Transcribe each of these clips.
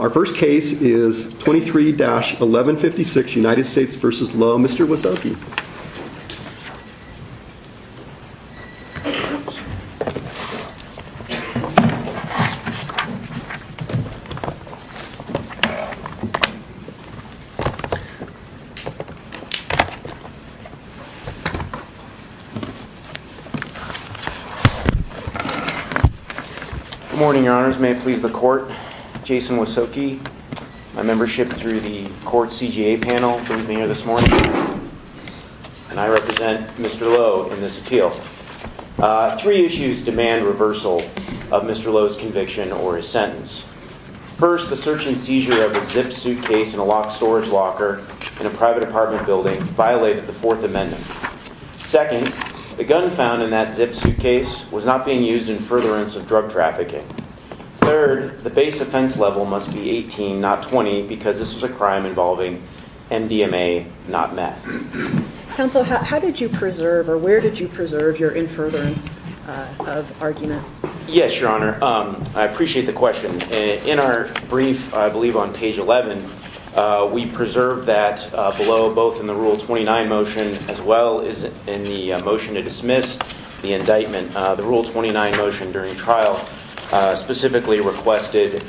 Our first case is 23-1156 U.S. v. Lowe. Mr. Wieselke. Good morning, your honors. May it please the court, Jason Wieselke, my membership through the court's CGA panel for being here this morning. I represent Mr. Lowe in this appeal. Three issues demand reversal of Mr. Lowe's conviction or his sentence. First, the search and seizure of a zipped suitcase in a locked storage locker in a private apartment building violated the Fourth Amendment. Second, the gun found in that zipped suitcase was not being used in furtherance of drug trafficking. Third, the base offense level must be 18, not 20 because this was a crime involving MDMA, not meth. Counsel, how did you preserve or where did you preserve your in furtherance of argument? Yes, your honor. I appreciate the question. In our brief, I believe on page 11, we preserved that below both in the Rule 29 motion as well as in the motion to dismiss the indictment. The Rule 29 motion during the trial specifically requested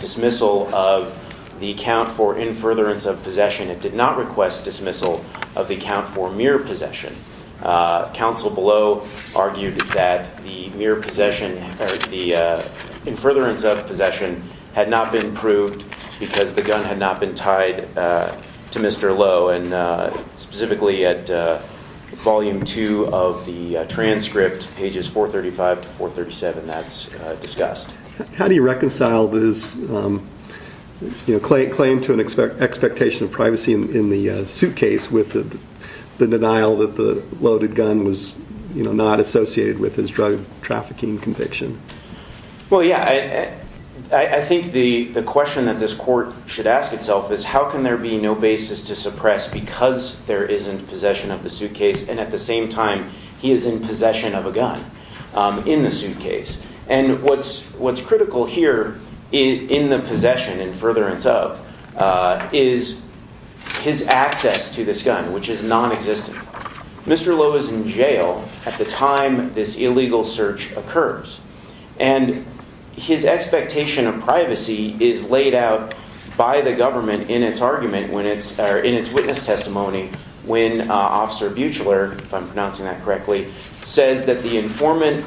dismissal of the account for in furtherance of possession. It did not request dismissal of the account for mere possession. Counsel below argued that the mere possession or the in furtherance of possession had not been proved because the gun had not been tied to Mr. Lowe and specifically at volume two of the transcript, pages 435 to 437, that's discussed. How do you reconcile this claim to an expectation of privacy in the suitcase with the denial that the loaded gun was not associated with his drug trafficking conviction? Well, yeah. I think the question that this court should ask itself is how can there be no basis to suppress because there isn't possession of a gun in the suitcase? And what's critical here in the possession in furtherance of is his access to this gun, which is non-existent. Mr. Lowe is in jail at the time this illegal search occurs and his expectation of privacy is laid out by the government in its argument when it's in its witness testimony when Officer Buechler, if I'm pronouncing that correctly, says that the informant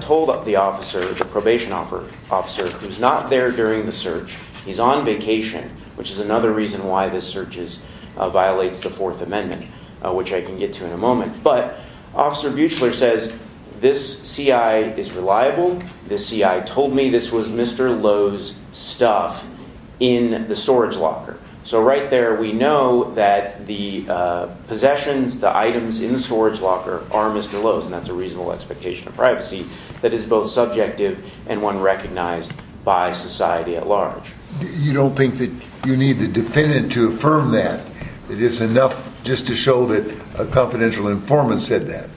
told the officer, the probation officer, who's not there during the search, he's on vacation, which is another reason why this search violates the Fourth Amendment, which I can get to in a moment. But Officer Buechler says this CI is reliable, this CI told me this was Mr. Lowe's stuff in the storage locker. So right there we know that the possessions, the items in the storage locker are Mr. Lowe's and that's a reasonable expectation of privacy that is both subjective and one recognized by society at large. You don't think that you need the defendant to affirm that? That it's enough just to show that a confidential informant said that?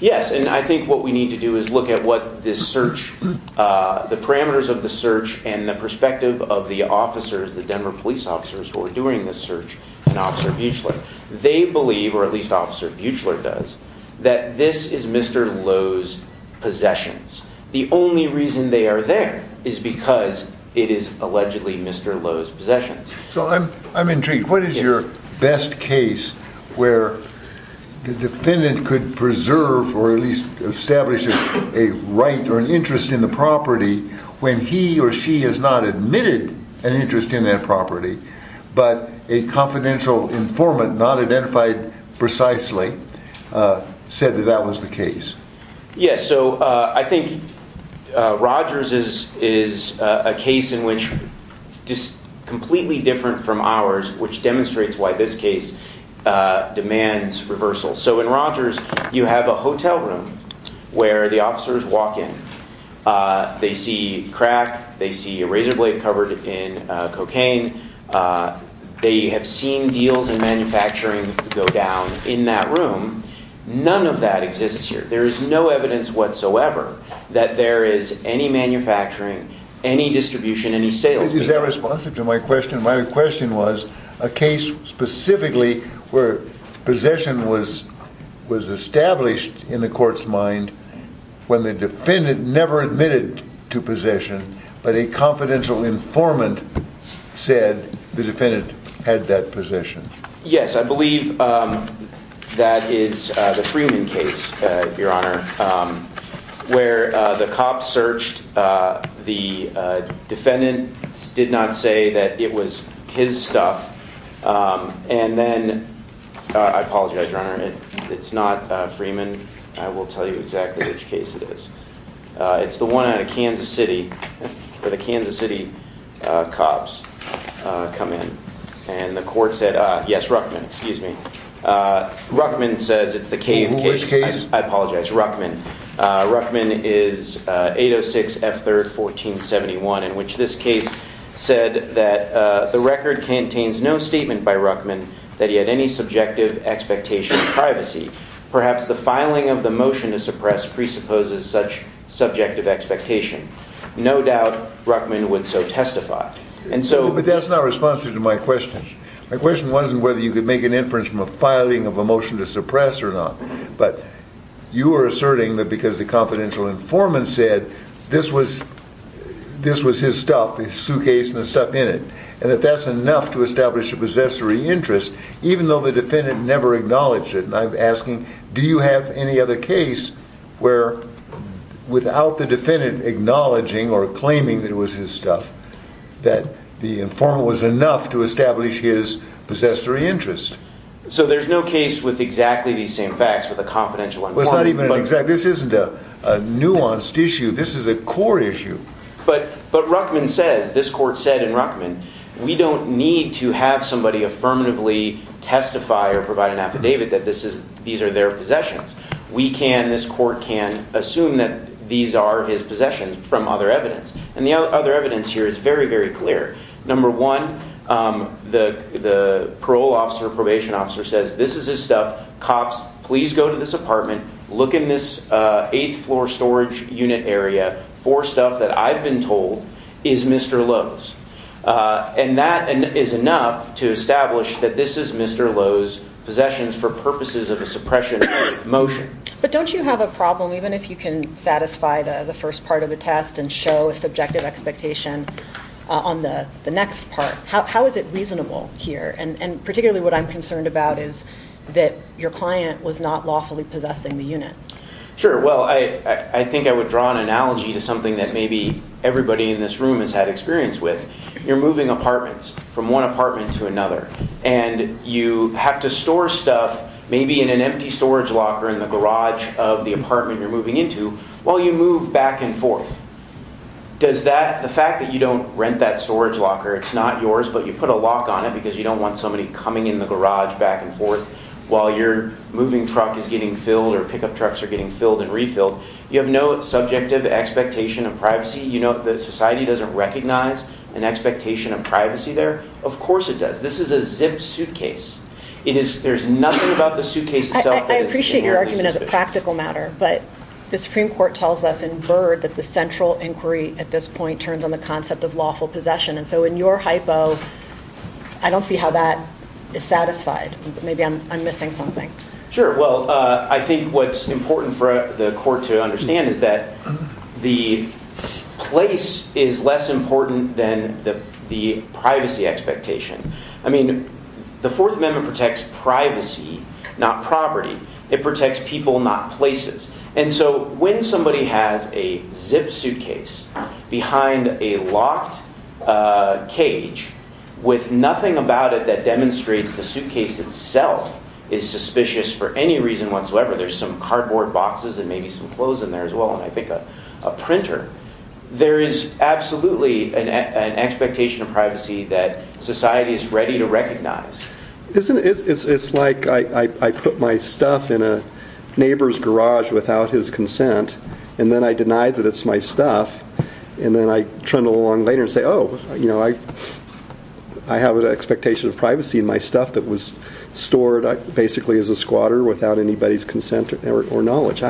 Yes, and I think what we need to do is look at what this search, the parameters of the search and the perspective of the officers, the Denver police officers who are doing this search and Officer Buechler. They believe, or at least Officer Buechler does, that this is Mr. Lowe's possessions. The only reason they are there is because it is allegedly Mr. Lowe's possessions. So I'm intrigued. What is your best case where the defendant could preserve or at least establish a right or an interest in the property when he or she has not admitted an interest in that property, but a confidential informant, not identified precisely, said that that was the case? Yes, so I think Rogers is a case in which completely different from ours, which demonstrates why this case demands reversal. So in Rogers you have a hotel room where the officers walk in, they see crack, they see a razor blade covered in cocaine, they have seen deals in manufacturing go down in that room. None of that exists here. There is no evidence whatsoever that there is any manufacturing, any distribution, any sales. Is that responsive to my question? My question was a case specifically where possession was established in the court's mind when the defendant never admitted to possession, but a confidential informant said the defendant had that possession? Yes, I believe that is the Freeman case, Your Honor, where the cops searched, the defendant did not say that it was his possession, but he did say that it was his possession. I apologize, Your Honor, it's not Freeman. I will tell you exactly which case it is. It's the one out of Kansas City where the Kansas City cops come in and the court said, yes, Ruckman, excuse me. Ruckman says it's the KF case. Which case? I apologize, Ruckman. Ruckman is 806 F3rd 1471 in which this case said that the record contains no statement by Ruckman that he had any subjective expectation of privacy. Perhaps the filing of the motion to suppress presupposes such subjective expectation. No doubt Ruckman would so testify. But that's not responsive to my question. My question wasn't whether you could make an inference from a filing of a motion to suppress or not, but you are asserting that because the confidential informant said this was his stuff, the suit case and the stuff in it and that that's enough to establish a possessory interest, even though the defendant never acknowledged it. And I'm asking, do you have any other case where without the defendant acknowledging or claiming that it was his stuff, that the informant was enough to establish his possessory interest? So there's no case with exactly the same facts with a confidential informant. This isn't a nuanced issue. This is a core issue. But Ruckman says this court said in Ruckman, we don't need to have somebody affirmatively testify or provide an affidavit that this is these are their possessions. We can. This court can assume that these are his possessions from other evidence. And the other evidence here is very, very clear. Number one, the the parole officer, probation officer says this is his stuff. Cops, please go to this apartment. Look in this eighth floor storage unit area for stuff that I've been told is Mr. Lowe's. And that is enough to establish that this is Mr. Lowe's possessions for purposes of a suppression motion. But don't you have a problem even if you can satisfy the first part of the test and show a subjective expectation on the next part? How is it reasonable here? And particularly what I'm concerned about is that your client was not lawfully possessing the unit. Sure. Well, I think I would draw an analogy to something that maybe everybody in this room has had experience with. You're moving apartments from one apartment to another and you have to store stuff, maybe in an empty storage locker in the garage of the apartment you're moving into while you move back and forth. Does that the fact that you don't rent that storage locker, it's not yours, but you put a lock on it because you don't want somebody coming in the garage back and forth while your moving truck is getting filled or pickup trucks are getting filled and refilled. You have no subjective expectation of privacy. You know that society doesn't recognize an expectation of privacy there. Of course it does. This is a zipped suitcase. There's nothing about the suitcase itself that is inherently suspicious. I appreciate your argument as a practical matter, but the Supreme Court tells us in Byrd that the central inquiry at this point turns on the concept of lawful possession. And so in your hypo, I don't see how that is satisfied. Maybe I'm missing something. Sure. Well, I think what's important for the public to understand is that the place is less important than the privacy expectation. I mean, the Fourth Amendment protects privacy, not property. It protects people, not places. And so when somebody has a zipped suitcase behind a locked cage with nothing about it that demonstrates the suitcase itself is suspicious for any reason whatsoever, there's some cardboard boxes and maybe some clothes in there as well, and I think a printer, there is absolutely an expectation of privacy that society is ready to recognize. It's like I put my stuff in a neighbor's garage without his consent, and then I deny that it's my stuff, and then I trundle along later and say, oh, I have an expectation of privacy in my stuff that was stored basically as a squatter without anybody's consent or knowledge.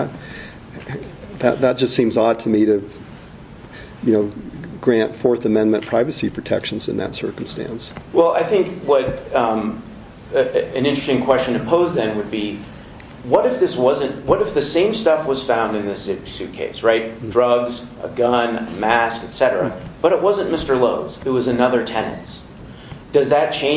That just seems odd to me to grant Fourth Amendment privacy protections in that circumstance. Well, I think what an interesting question to pose then would be, what if the same stuff was found in the zipped suitcase, right? Drugs, a gun, a mask, et cetera. But it wasn't Mr. Lowe's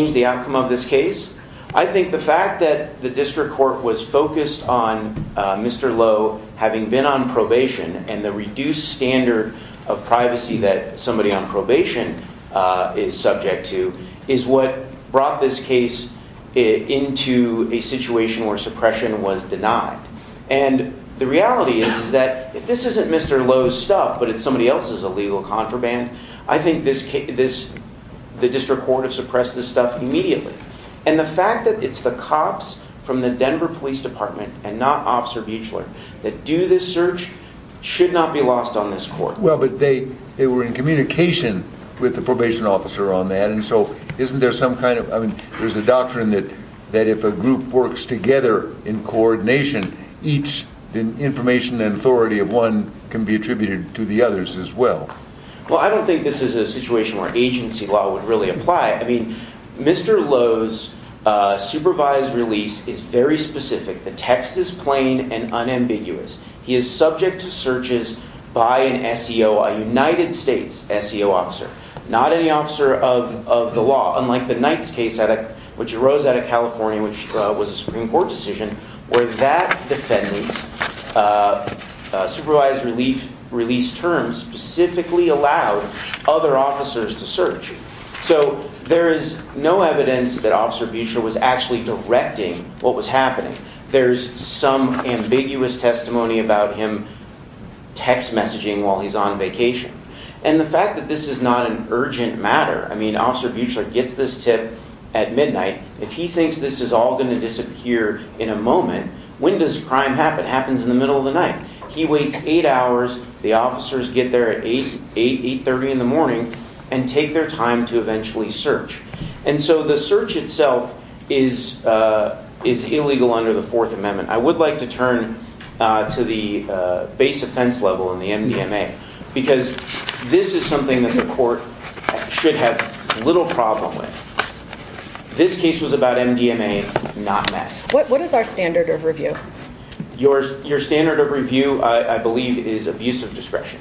stuff, it was somebody else's illegal contraband. I think this question of privacy is a very interesting one. I think that the fact that the District Court was focused on Mr. Lowe having been on probation and the reduced standard of privacy that somebody on probation is subject to is what brought this case into a situation where suppression was denied. And the reality is that if this isn't Mr. Lowe's stuff, but it's somebody else's illegal contraband, I think the District Court has suppressed this stuff immediately. And the fact that it's the cops from the Denver Police Department and not Officer Buechler that do this search should not be lost on this court. Well, but they were in communication with the probation officer on that, and so isn't there some kind of, I mean, there's a doctrine that if a group works together in coordination, each information and authority of one can be attributed to the others as well. Well, I don't think this is a situation where agency law would really apply. I mean, Mr. Lowe's supervised release is very specific. The text is plain and unambiguous. He is subject to searches by an SEO, a United States SEO officer, not any officer of the law, unlike the Knight's case, which arose out of California, which was a Supreme Court decision where that defendant's supervised release terms specifically allowed other officers to search. So there is no evidence that Officer Buechler was actually directing what was happening. There's some ambiguous testimony about him text messaging while he's on vacation. And the fact that this is not an urgent matter, I mean, Officer Buechler gets this tip at midnight. If he thinks this is all going to disappear in a moment, when does crime happen? Happens in the middle of the night. He waits eight hours. The officers get there at 8, 830 in the morning and take their time to eventually search. And so the search itself is is illegal under the Fourth Amendment. I would like to turn to the base offense level in the MDMA because this is something that the court should have little problem with. This case was about MDMA, not meth. What is our standard of review? Your your standard of review, I believe, is abuse of discretion.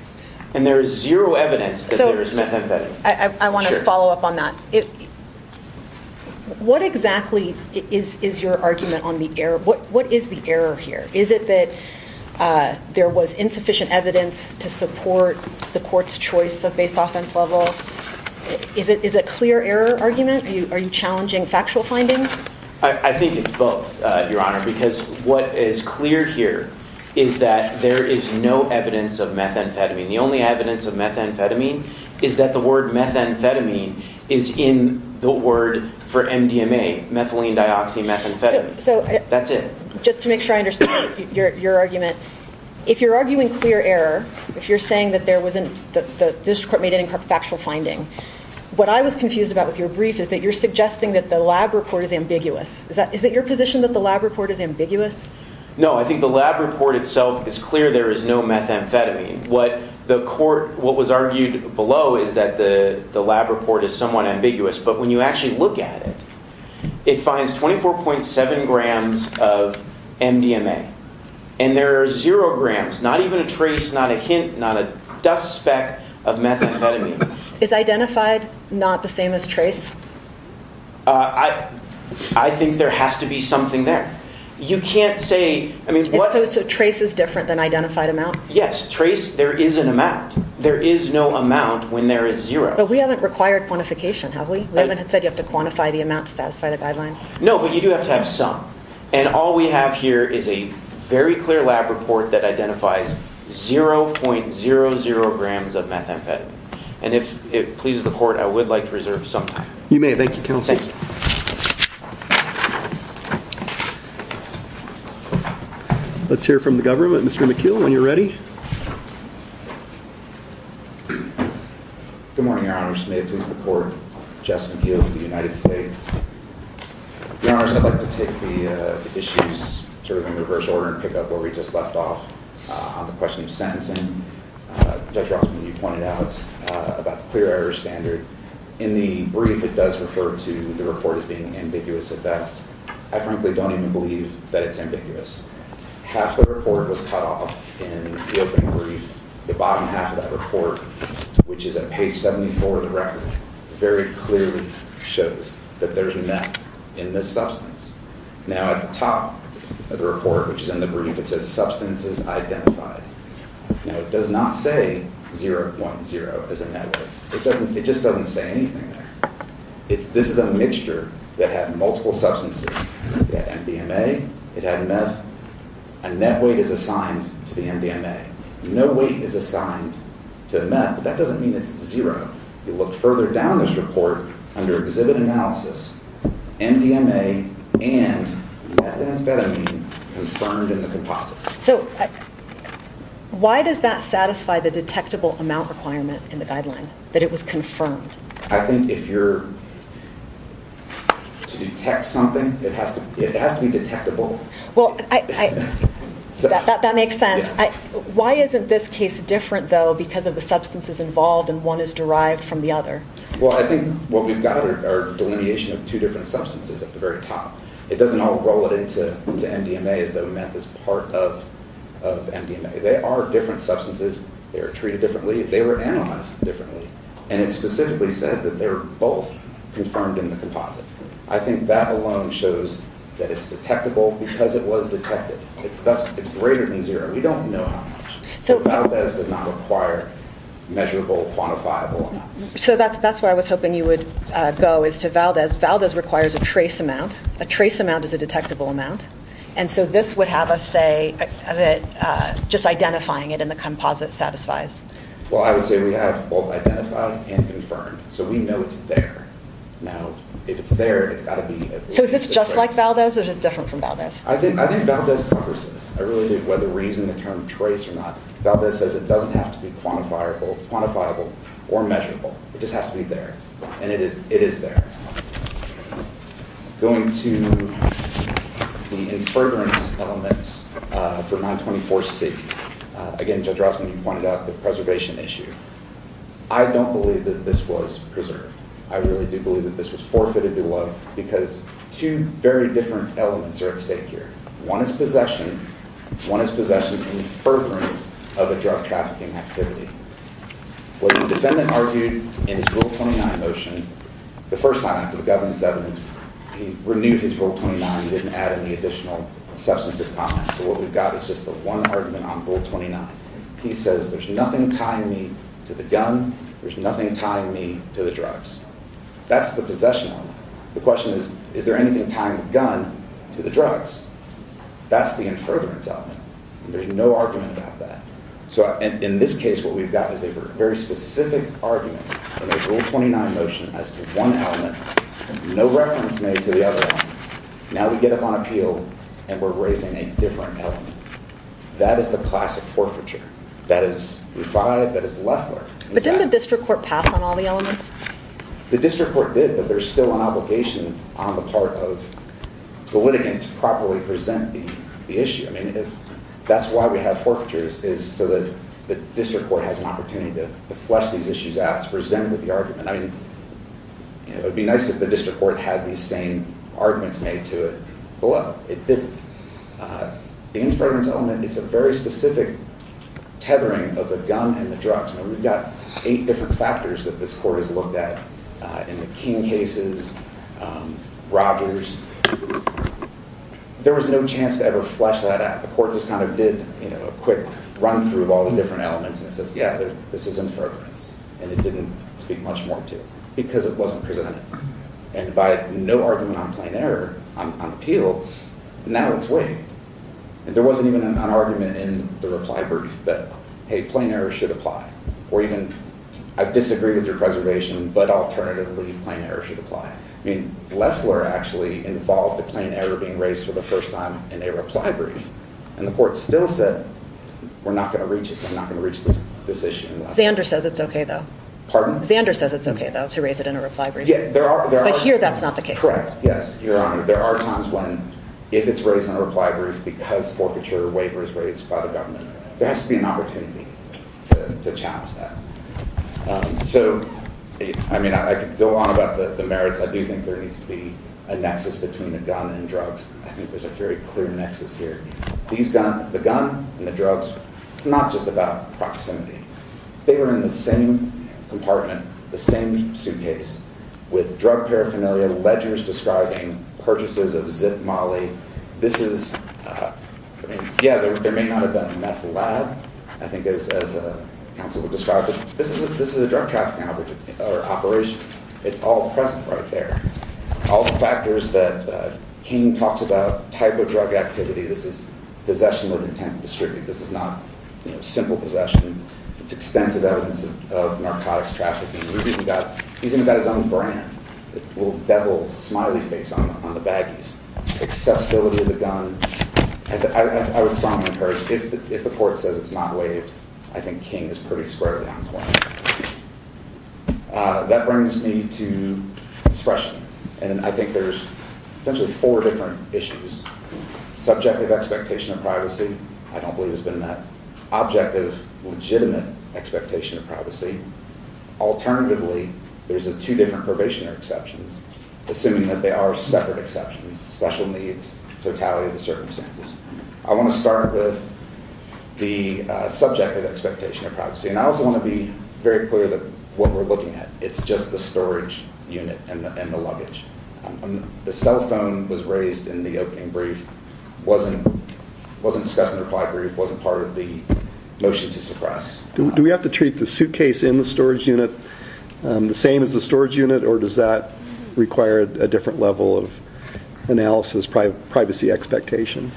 And there is zero evidence that there is methamphetamine. I want to follow up on that. What exactly is is your argument on the error? What what is the error here? Is it that there was insufficient evidence to support the court's choice of base offense level? Is it is a clear error argument? Are you challenging factual findings? I think it's both, Your Honor, because what is clear here is that there is no evidence of methamphetamine. The only evidence of methamphetamine is that the word methamphetamine is in the word for MDMA, methylenedioxymethamphetamine. So that's it. Just to make sure I understand your argument, if you're arguing clear error, if you're saying that there wasn't that this court made any factual finding, what I was confused about with your brief is that you're suggesting that the lab report is ambiguous. Is that is it your position that the lab report is ambiguous? No, I think the lab report itself is clear. There is no methamphetamine. What the court what was argued below is that the the lab report is somewhat ambiguous. But when you actually look at it, it finds 24.7 grams of MDMA and there are zero grams, not even a trace, not a hint, not a dust speck of methamphetamine. Is identified not the same as trace? I think there has to be something there. You can't say I mean, trace is different than identified amount. Yes, trace. There is an amount. There is no amount when there is zero. But we haven't required quantification, have we? We haven't said you have to quantify the amount to satisfy the guideline. No, but you do have to have some. And all we have here is a very clear lab report that identifies 0.00 grams of methamphetamine. And if it is not, we would like to reserve some. You may. Thank you, counsel. Let's hear from the government. Mr. McKeel, when you're ready. Good morning, Your Honor. May I please support Jess McKeel of the United States? Your Honor, I'd like to take the issues sort of in reverse order and pick up where we just left off on the question of sentencing. Judge Rossman, you pointed out about the clear air standard. In the brief, it does refer to the report as being ambiguous at best. I frankly don't even believe that it's ambiguous. Half the report was cut off in the opening brief. The bottom half of that report, which is at page 74 of the record, very clearly shows that there's a meth in this substance. Now at the top of the report, which is in the brief, it says substances identified. Now, it does not say 0.0 as a meth. It just doesn't say anything there. This is a mixture that had multiple substances. It had MDMA. It had meth. A net weight is assigned to the MDMA. No weight is assigned to the meth. That doesn't mean it's zero. You look further down this report under exhibit analysis, MDMA and methamphetamine confirmed in the composite. So why does that satisfy the detectable amount requirement in the guideline, that it was confirmed? I think if you're to detect something, it has to be detectable. That makes sense. Why isn't this case different though because of the substances involved and one is derived from the other? Well, I think what we've got are delineation of two different substances at the very top. It doesn't all roll it into MDMA as though meth is part of MDMA. There are different substances. They are treated differently. They were analyzed differently. And it specifically says that they're both confirmed in the composite. I think that alone shows that it's detectable because it was detected. It's greater than zero. We don't know how much. So Valdez does not require measurable quantifiable amounts. So that's where I was hoping you would go is to Valdez. Valdez requires a trace amount. A trace amount is a detectable amount. And so this would have us say that just identifying it in the composite satisfies. Well, I would say we have both identified and confirmed. So we know it's there. Now, if it's there, it's got to be at least a trace. So is this just like Valdez or is it different from Valdez? I think Valdez covers this. I really think whether we're using the term trace or not, Valdez says it doesn't have to be quantifiable or measurable. It just has to be there. And it is there. Going to the in-furtherance element for 924C, again, Judge Rossman, you pointed out the preservation issue. I don't believe that this was preserved. I really do believe that this was forfeited to love because two very different elements are at stake here. One is possession. One is possession in-furtherance of a drug trafficking activity. What the defendant argued in his Rule 29 motion, the first time after the government's evidence, he renewed his Rule 29. He didn't add any additional substantive comments. So what we've got is just the one argument on Rule 29. He says, there's nothing tying me to the gun. There's nothing tying me to the drugs. That's the possession element. The question is, is there anything tying the gun to the drugs? That's the in-furtherance element. There's no argument about that. So in this case, what we've got is a very specific argument in the Rule 29 motion as to one element, no reference made to the other elements. Now we get up on appeal, and we're raising a different element. That is the classic forfeiture. That is Lefler. But didn't the district court pass on all the elements? The district court did, but there's still an obligation on the part of the litigant to properly present the issue. That's why we have forfeitures, is so that the district court has an opportunity to flesh these issues out, to present with the argument. It would be nice if the district court had these same arguments made to it, but look, it didn't. The in-furtherance element is a very specific tethering of the gun and the drugs. We've got eight different factors that this court has looked at in the King cases, Rogers. There was no chance to ever flesh that out. The court just kind of did a quick run-through of all the different elements, and it says, yeah, this is in-furtherance. And it didn't speak much more to it, because it wasn't presented. And by no argument on plain error on appeal, now it's waived. And there wasn't even an argument in the reply brief that, hey, plain error should apply. Or even, I disagree with your preservation, but alternatively, plain error should apply. I mean, Loeffler actually involved a plain error being raised for the first time in a reply brief. And the court still said, we're not going to reach it. We're not going to reach this issue. Zander says it's OK, though. Pardon? Zander says it's OK, though, to raise it in a reply brief. Yeah, there are. But here, that's not the case. Correct. Yes, Your Honor. There are times when, if it's raised in a reply brief because a forfeiture waiver is raised by the government, there has to be an opportunity to challenge that. So I mean, I could go on about the merits. I do think there needs to be a nexus between the gun and drugs. I think there's a very clear nexus here. The gun and the drugs, it's not just about proximity. They were in the same compartment, the same suitcase, with Yeah, there may not have been a meth lab, I think, as counsel would describe it. This is a drug trafficking operation. It's all present right there. All the factors that King talks about, type of drug activity, this is possession with intent to distribute. This is not simple possession. It's extensive evidence of narcotics trafficking. He's even got his own brand, the little devil smiley face on the baggies. Accessibility of the gun. I would strongly encourage, if the court says it's not waived, I think King is pretty squarely on point. That brings me to expression. And I think there's essentially four different issues. Subjective expectation of privacy, I don't believe has been met. Objective, legitimate expectation of privacy. Alternatively, there's two different probationary exceptions, assuming that they are separate exceptions, special needs, totality of the circumstances. I want to start with the subject of the expectation of privacy. And I also want to be very clear that what we're looking at, it's just the storage unit and the luggage. The cell phone was raised in the opening brief, wasn't discussed in the reply brief, wasn't part of the motion to suppress. Do we have to treat the suitcase in the storage unit the same as the storage unit, or does that require a different level of analysis, privacy expectation?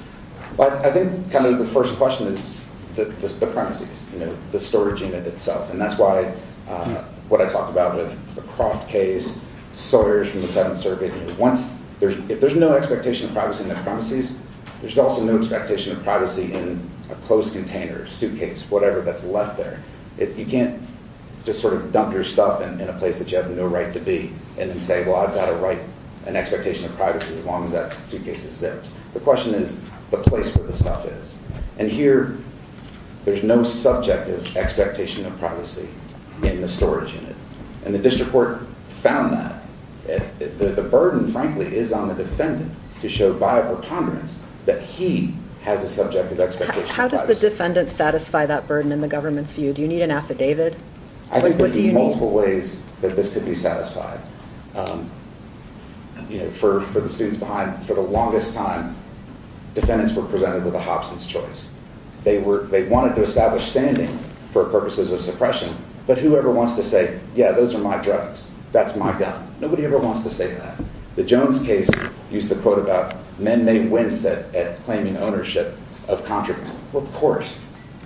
I think kind of the first question is the premises, the storage unit itself. And that's why what I talked about with the Croft case, Sawyer's from the Seventh Circuit. If there's no expectation of privacy in the premises, there's also no expectation of privacy in a closed container, suitcase, whatever that's left there. You can't just sort of dump your stuff in a place that you have no right to be, and then say, well, I've got an expectation of privacy as long as that suitcase is there. The question is the place where the stuff is. And here there's no subjective expectation of privacy in the storage unit. And the district court found that. The burden, frankly, is on the defendant to show viable ponderance that he has a subjective expectation of privacy. How does the defendant satisfy that burden in the government's view? Do you need an affidavit? I think there are multiple ways that this could be satisfied. For the students behind me, for the longest time, defendants were presented with a Hobson's choice. They wanted to establish standing for purposes of suppression, but whoever wants to say, yeah, those are my drugs, that's my gun, nobody ever wants to say that. The Jones case used the quote about men may wince at claiming ownership of contraband. Well, of course,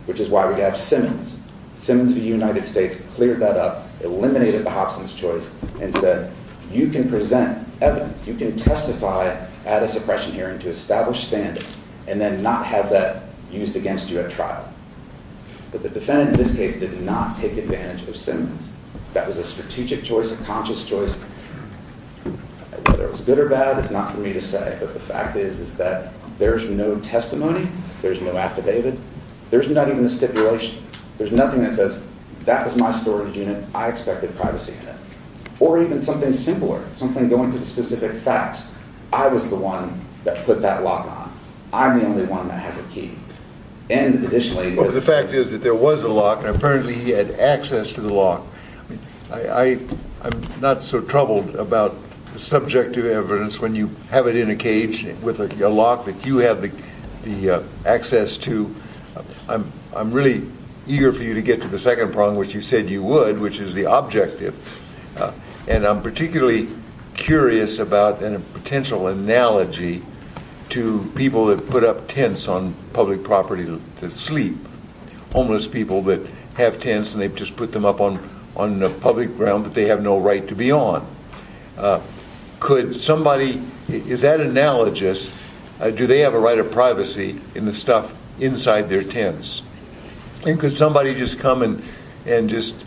which is why we have Simmons. Simmons v. United States cleared that up, eliminated the Hobson's choice, and said, you can present evidence, you can testify at a suppression hearing to establish standing, and then not have that used against you at trial. But the defendant in this case did not take advantage of Simmons. That was a strategic choice, a conscious choice. Whether it was good or bad is not for me to say, but the fact is that there's no testimony, there's no affidavit, there's not even a stipulation. There's nothing that says, that was my storage unit, I expected privacy in it. Or even something simpler, something going to the specific facts. I was the one that put that lock on. I'm the only one that has a key. And additionally... The fact is that there was a lock, and apparently he had access to the lock. I'm not so troubled about the subjective evidence when you have it in a cage with a lock that you have the access to. I'm really eager for you to get to the second problem, which you said you would, which is the objective. And I'm particularly curious about, and a potential analogy, to homeless people that have tents and they just put them up on public ground that they have no right to be on. Could somebody... Is that analogous? Do they have a right of privacy in the stuff inside their tents? And could somebody just come and just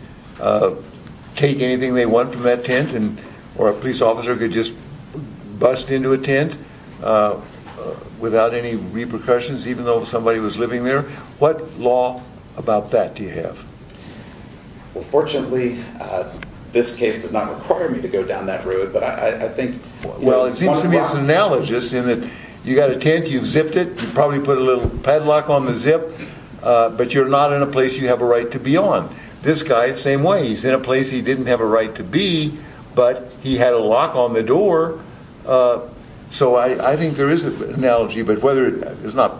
take anything they want from that tent, or a police officer could just bust into a tent without any repercussions, even though somebody was living there? What law about that do you have? Well, fortunately, this case does not require me to go down that road, but I think... Well, it seems to me it's analogous in that you've got a tent, you've zipped it, you probably put a little padlock on the zip, but you're not in a place you have a right to be on. This guy, same way. He's in a place he didn't have a right to be, but he had a lock on the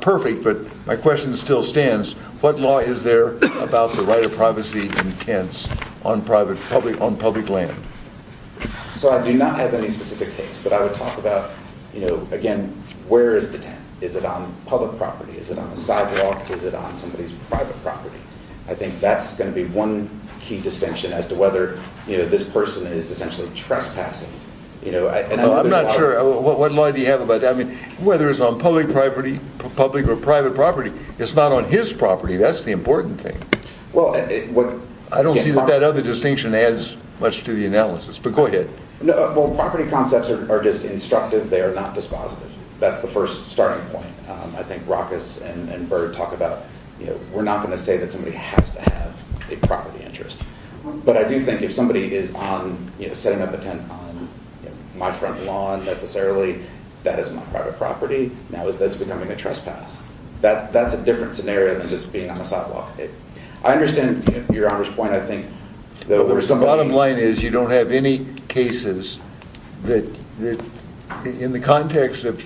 perfect, but my question still stands. What law is there about the right of privacy in tents on public land? So I do not have any specific case, but I would talk about, again, where is the tent? Is it on public property? Is it on the sidewalk? Is it on somebody's private property? I think that's going to be one key distinction as to whether this person is essentially trespassing. No, I'm not sure. What law do you have about that? I mean, whether it's on public property, public or private property, it's not on his property. That's the important thing. I don't see that that other distinction adds much to the analysis, but go ahead. Well, property concepts are just instructive. They are not dispositive. That's the first starting point. I think Roccas and Bird talk about, we're not going to say that somebody has to have a property interest, but I do think if somebody is setting up a tent on my front lawn, necessarily, that is my private property. That's becoming a trespass. That's a different scenario than just being on the sidewalk. I understand your Honor's point. I think... The bottom line is you don't have any cases that, in the context of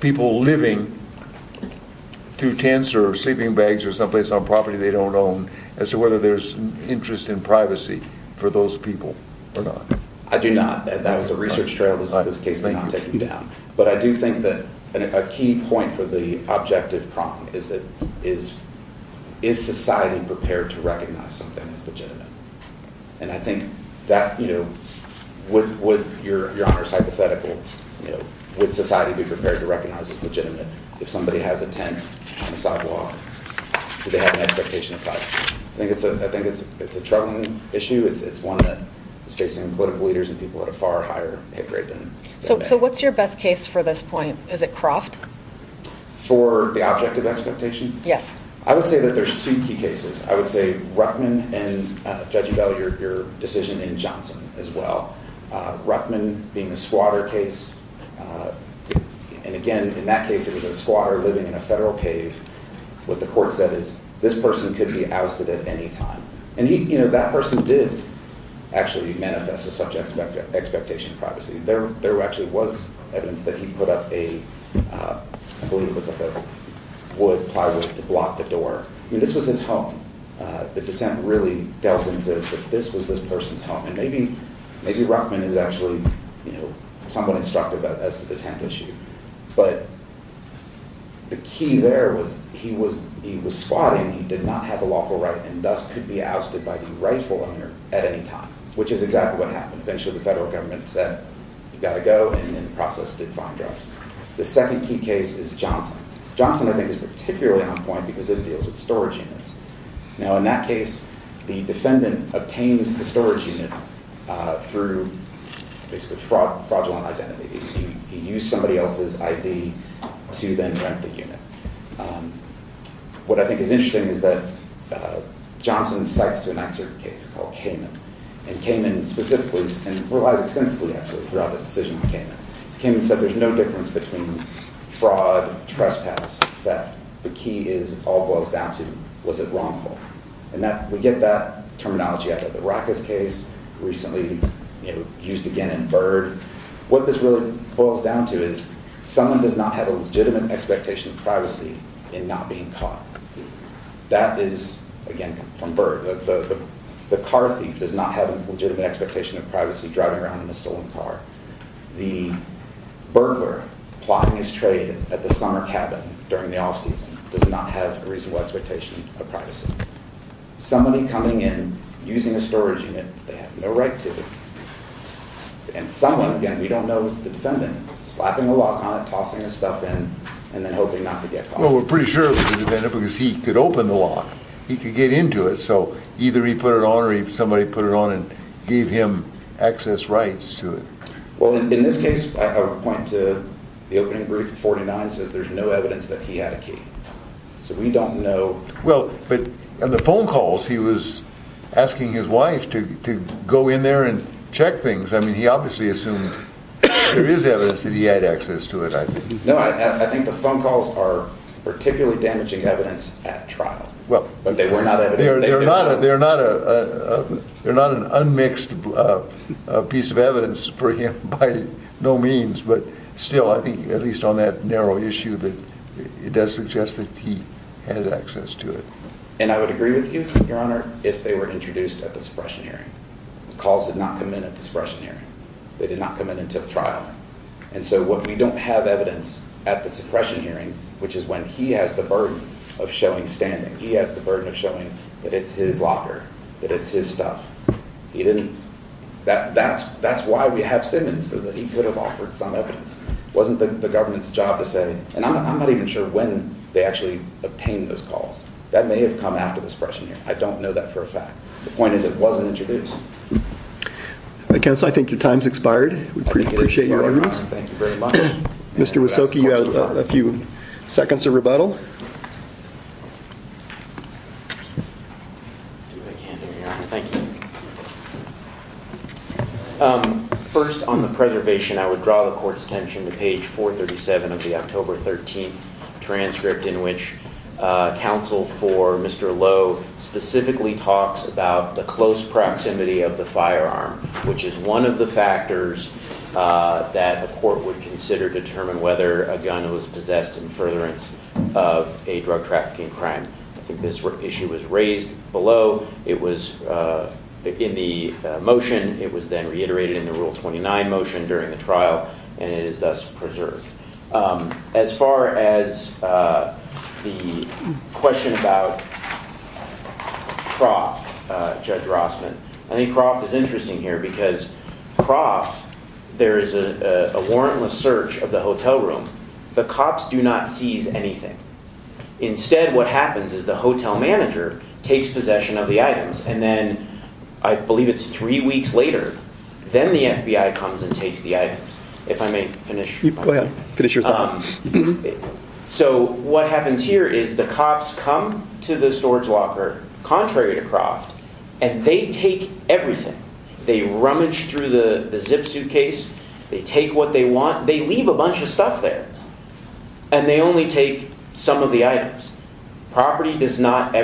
people living through tents or sleeping bags or someplace on property they don't own, as to whether there's interest in privacy for those people or not. I do not. That was a research trail. This is a case that I'm taking down. But I do think that a key point for the objective problem is, is society prepared to recognize something as legitimate? And I think that, you know, would your Honor's hypothetical, you know, would society be prepared to recognize as legitimate if somebody has a tent on the sidewalk? Do they have an expectation of privacy? I think it's a troubling issue. It's one that is facing political leaders and people at a far higher pay grade than... So what's your best case for this point? Is it Croft? For the objective expectation? Yes. I would say that there's two key cases. I would say Ruckman and Judge Ebell, your decision in Johnson as well. Ruckman being a squatter case. And again, in that case, it was a squatter living in a federal cave. What the court said is, this person could be ousted at any time. And he, you know, that person did actually manifest a subject of expectation of privacy. There actually was evidence that he put up a, I believe it was like a wood plywood to block the door. I mean, this was his home. The dissent really delves into that this was this person's home. And maybe Ruckman is actually, you know, somewhat instructive as to the tent issue. But the key there was he was squatting. He did not have a lawful right and thus could be ousted by the rightful owner at any time, which is exactly what happened. Eventually the federal government said, you got to go. And in the process did find drugs. The second key case is Johnson. Johnson, I think, is particularly on point because it deals with storage units. Now, in that case, the defendant obtained the storage unit through basically fraudulent identity. He used somebody else's ID to then rent the unit. What I think is interesting is that Johnson cites to an excerpt case called Cayman and Cayman specifically and relies extensively actually throughout this decision. Cayman said there's no difference between fraud, trespass, theft. The key is all boils down to was it wrongful? And that we get that terminology out of the Rackus case recently used again in Bird. What this really boils down to is someone does not have a legitimate expectation of privacy in not being caught. That is, again, from Bird. The car thief does not have a legitimate expectation of privacy driving around in a stolen car. The burglar plotting his trade at the summer cabin during the off-season does not have a reasonable expectation of privacy. Somebody coming in using a storage unit they have no right to. And someone, again, we don't know, is the defendant. Slapping a lock on it, tossing his stuff in, and then hoping not to get caught. Well, we're pretty sure it was the defendant because he could open the lock. He could get into it. So either he put it on or somebody put it on and gave him access rights to it. Well, in this case, I would point to the opening brief of 49 says there's no evidence that he had a key. So we don't know. Well, but in the phone calls he was asking his wife to go in there and check things. I mean, he obviously assumed there is evidence that he had access to it. I know. I think the phone calls are particularly damaging evidence at trial. Well, they were not. They're not. They're not. They're not an unmixed piece of evidence for him by no means. But still, I think at least on that point, I would point to the opening brief of 49 says there's no evidence that he had access to it. So either he put it on or somebody put it on. Well, in this case, I would point to the opening brief of 49 says there's no evidence that he had access to it. I know. But still, I think at least on that point, I would point to the opening brief of 49 says I don't know that for a fact. The point is, it wasn't introduced. I guess I think your time's expired. We appreciate your time. Thank you very much. Mr. Was so key. You have a few seconds of rebuttal. Thank you. First, on the preservation, I would draw the court's attention to page 437 of the October 13th transcript in which counsel for Mr. Lowe specifically talks about the close proximity of the firearm, which is one of the factors that the court would consider determine whether a gun was possessed in furtherance of a drug trafficking crime. I think this issue was raised below. It was in the motion. It was then reiterated in the rule 29 motion during the trial. And it is thus preserved. As far as the question about fraud, Judge Rossman, I think Croft is interesting here because Croft, there is a warrantless search of the hotel room. The cops do not seize anything. Instead, what happens is the hotel manager takes possession of the items. And then I believe it's three weeks later then the FBI comes and takes the items. If I may finish. Go ahead. Finish your thought. So what happens here is the cops come to the storage locker, contrary to Croft, and they take everything. They rummage through the zip suitcase. They take what they want. They leave a bunch of stuff there. And they only take some of the items. Property does not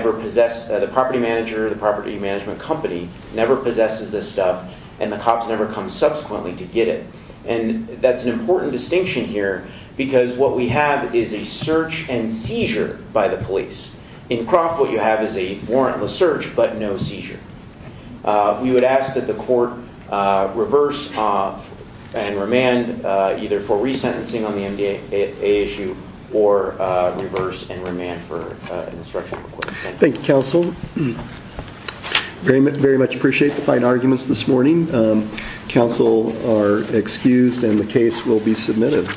and the cops never come subsequently to get it. And that's an important distinction here because what we have is a search and seizure by the police. In Croft what you have is a warrantless search but no seizure. We would ask that the court reverse and remand either for resentencing on the MDA issue or reverse and remand for an instruction request. Thank you, Counsel. Very much appreciate the fine arguments this morning. Counsel are excused and the case will be submitted.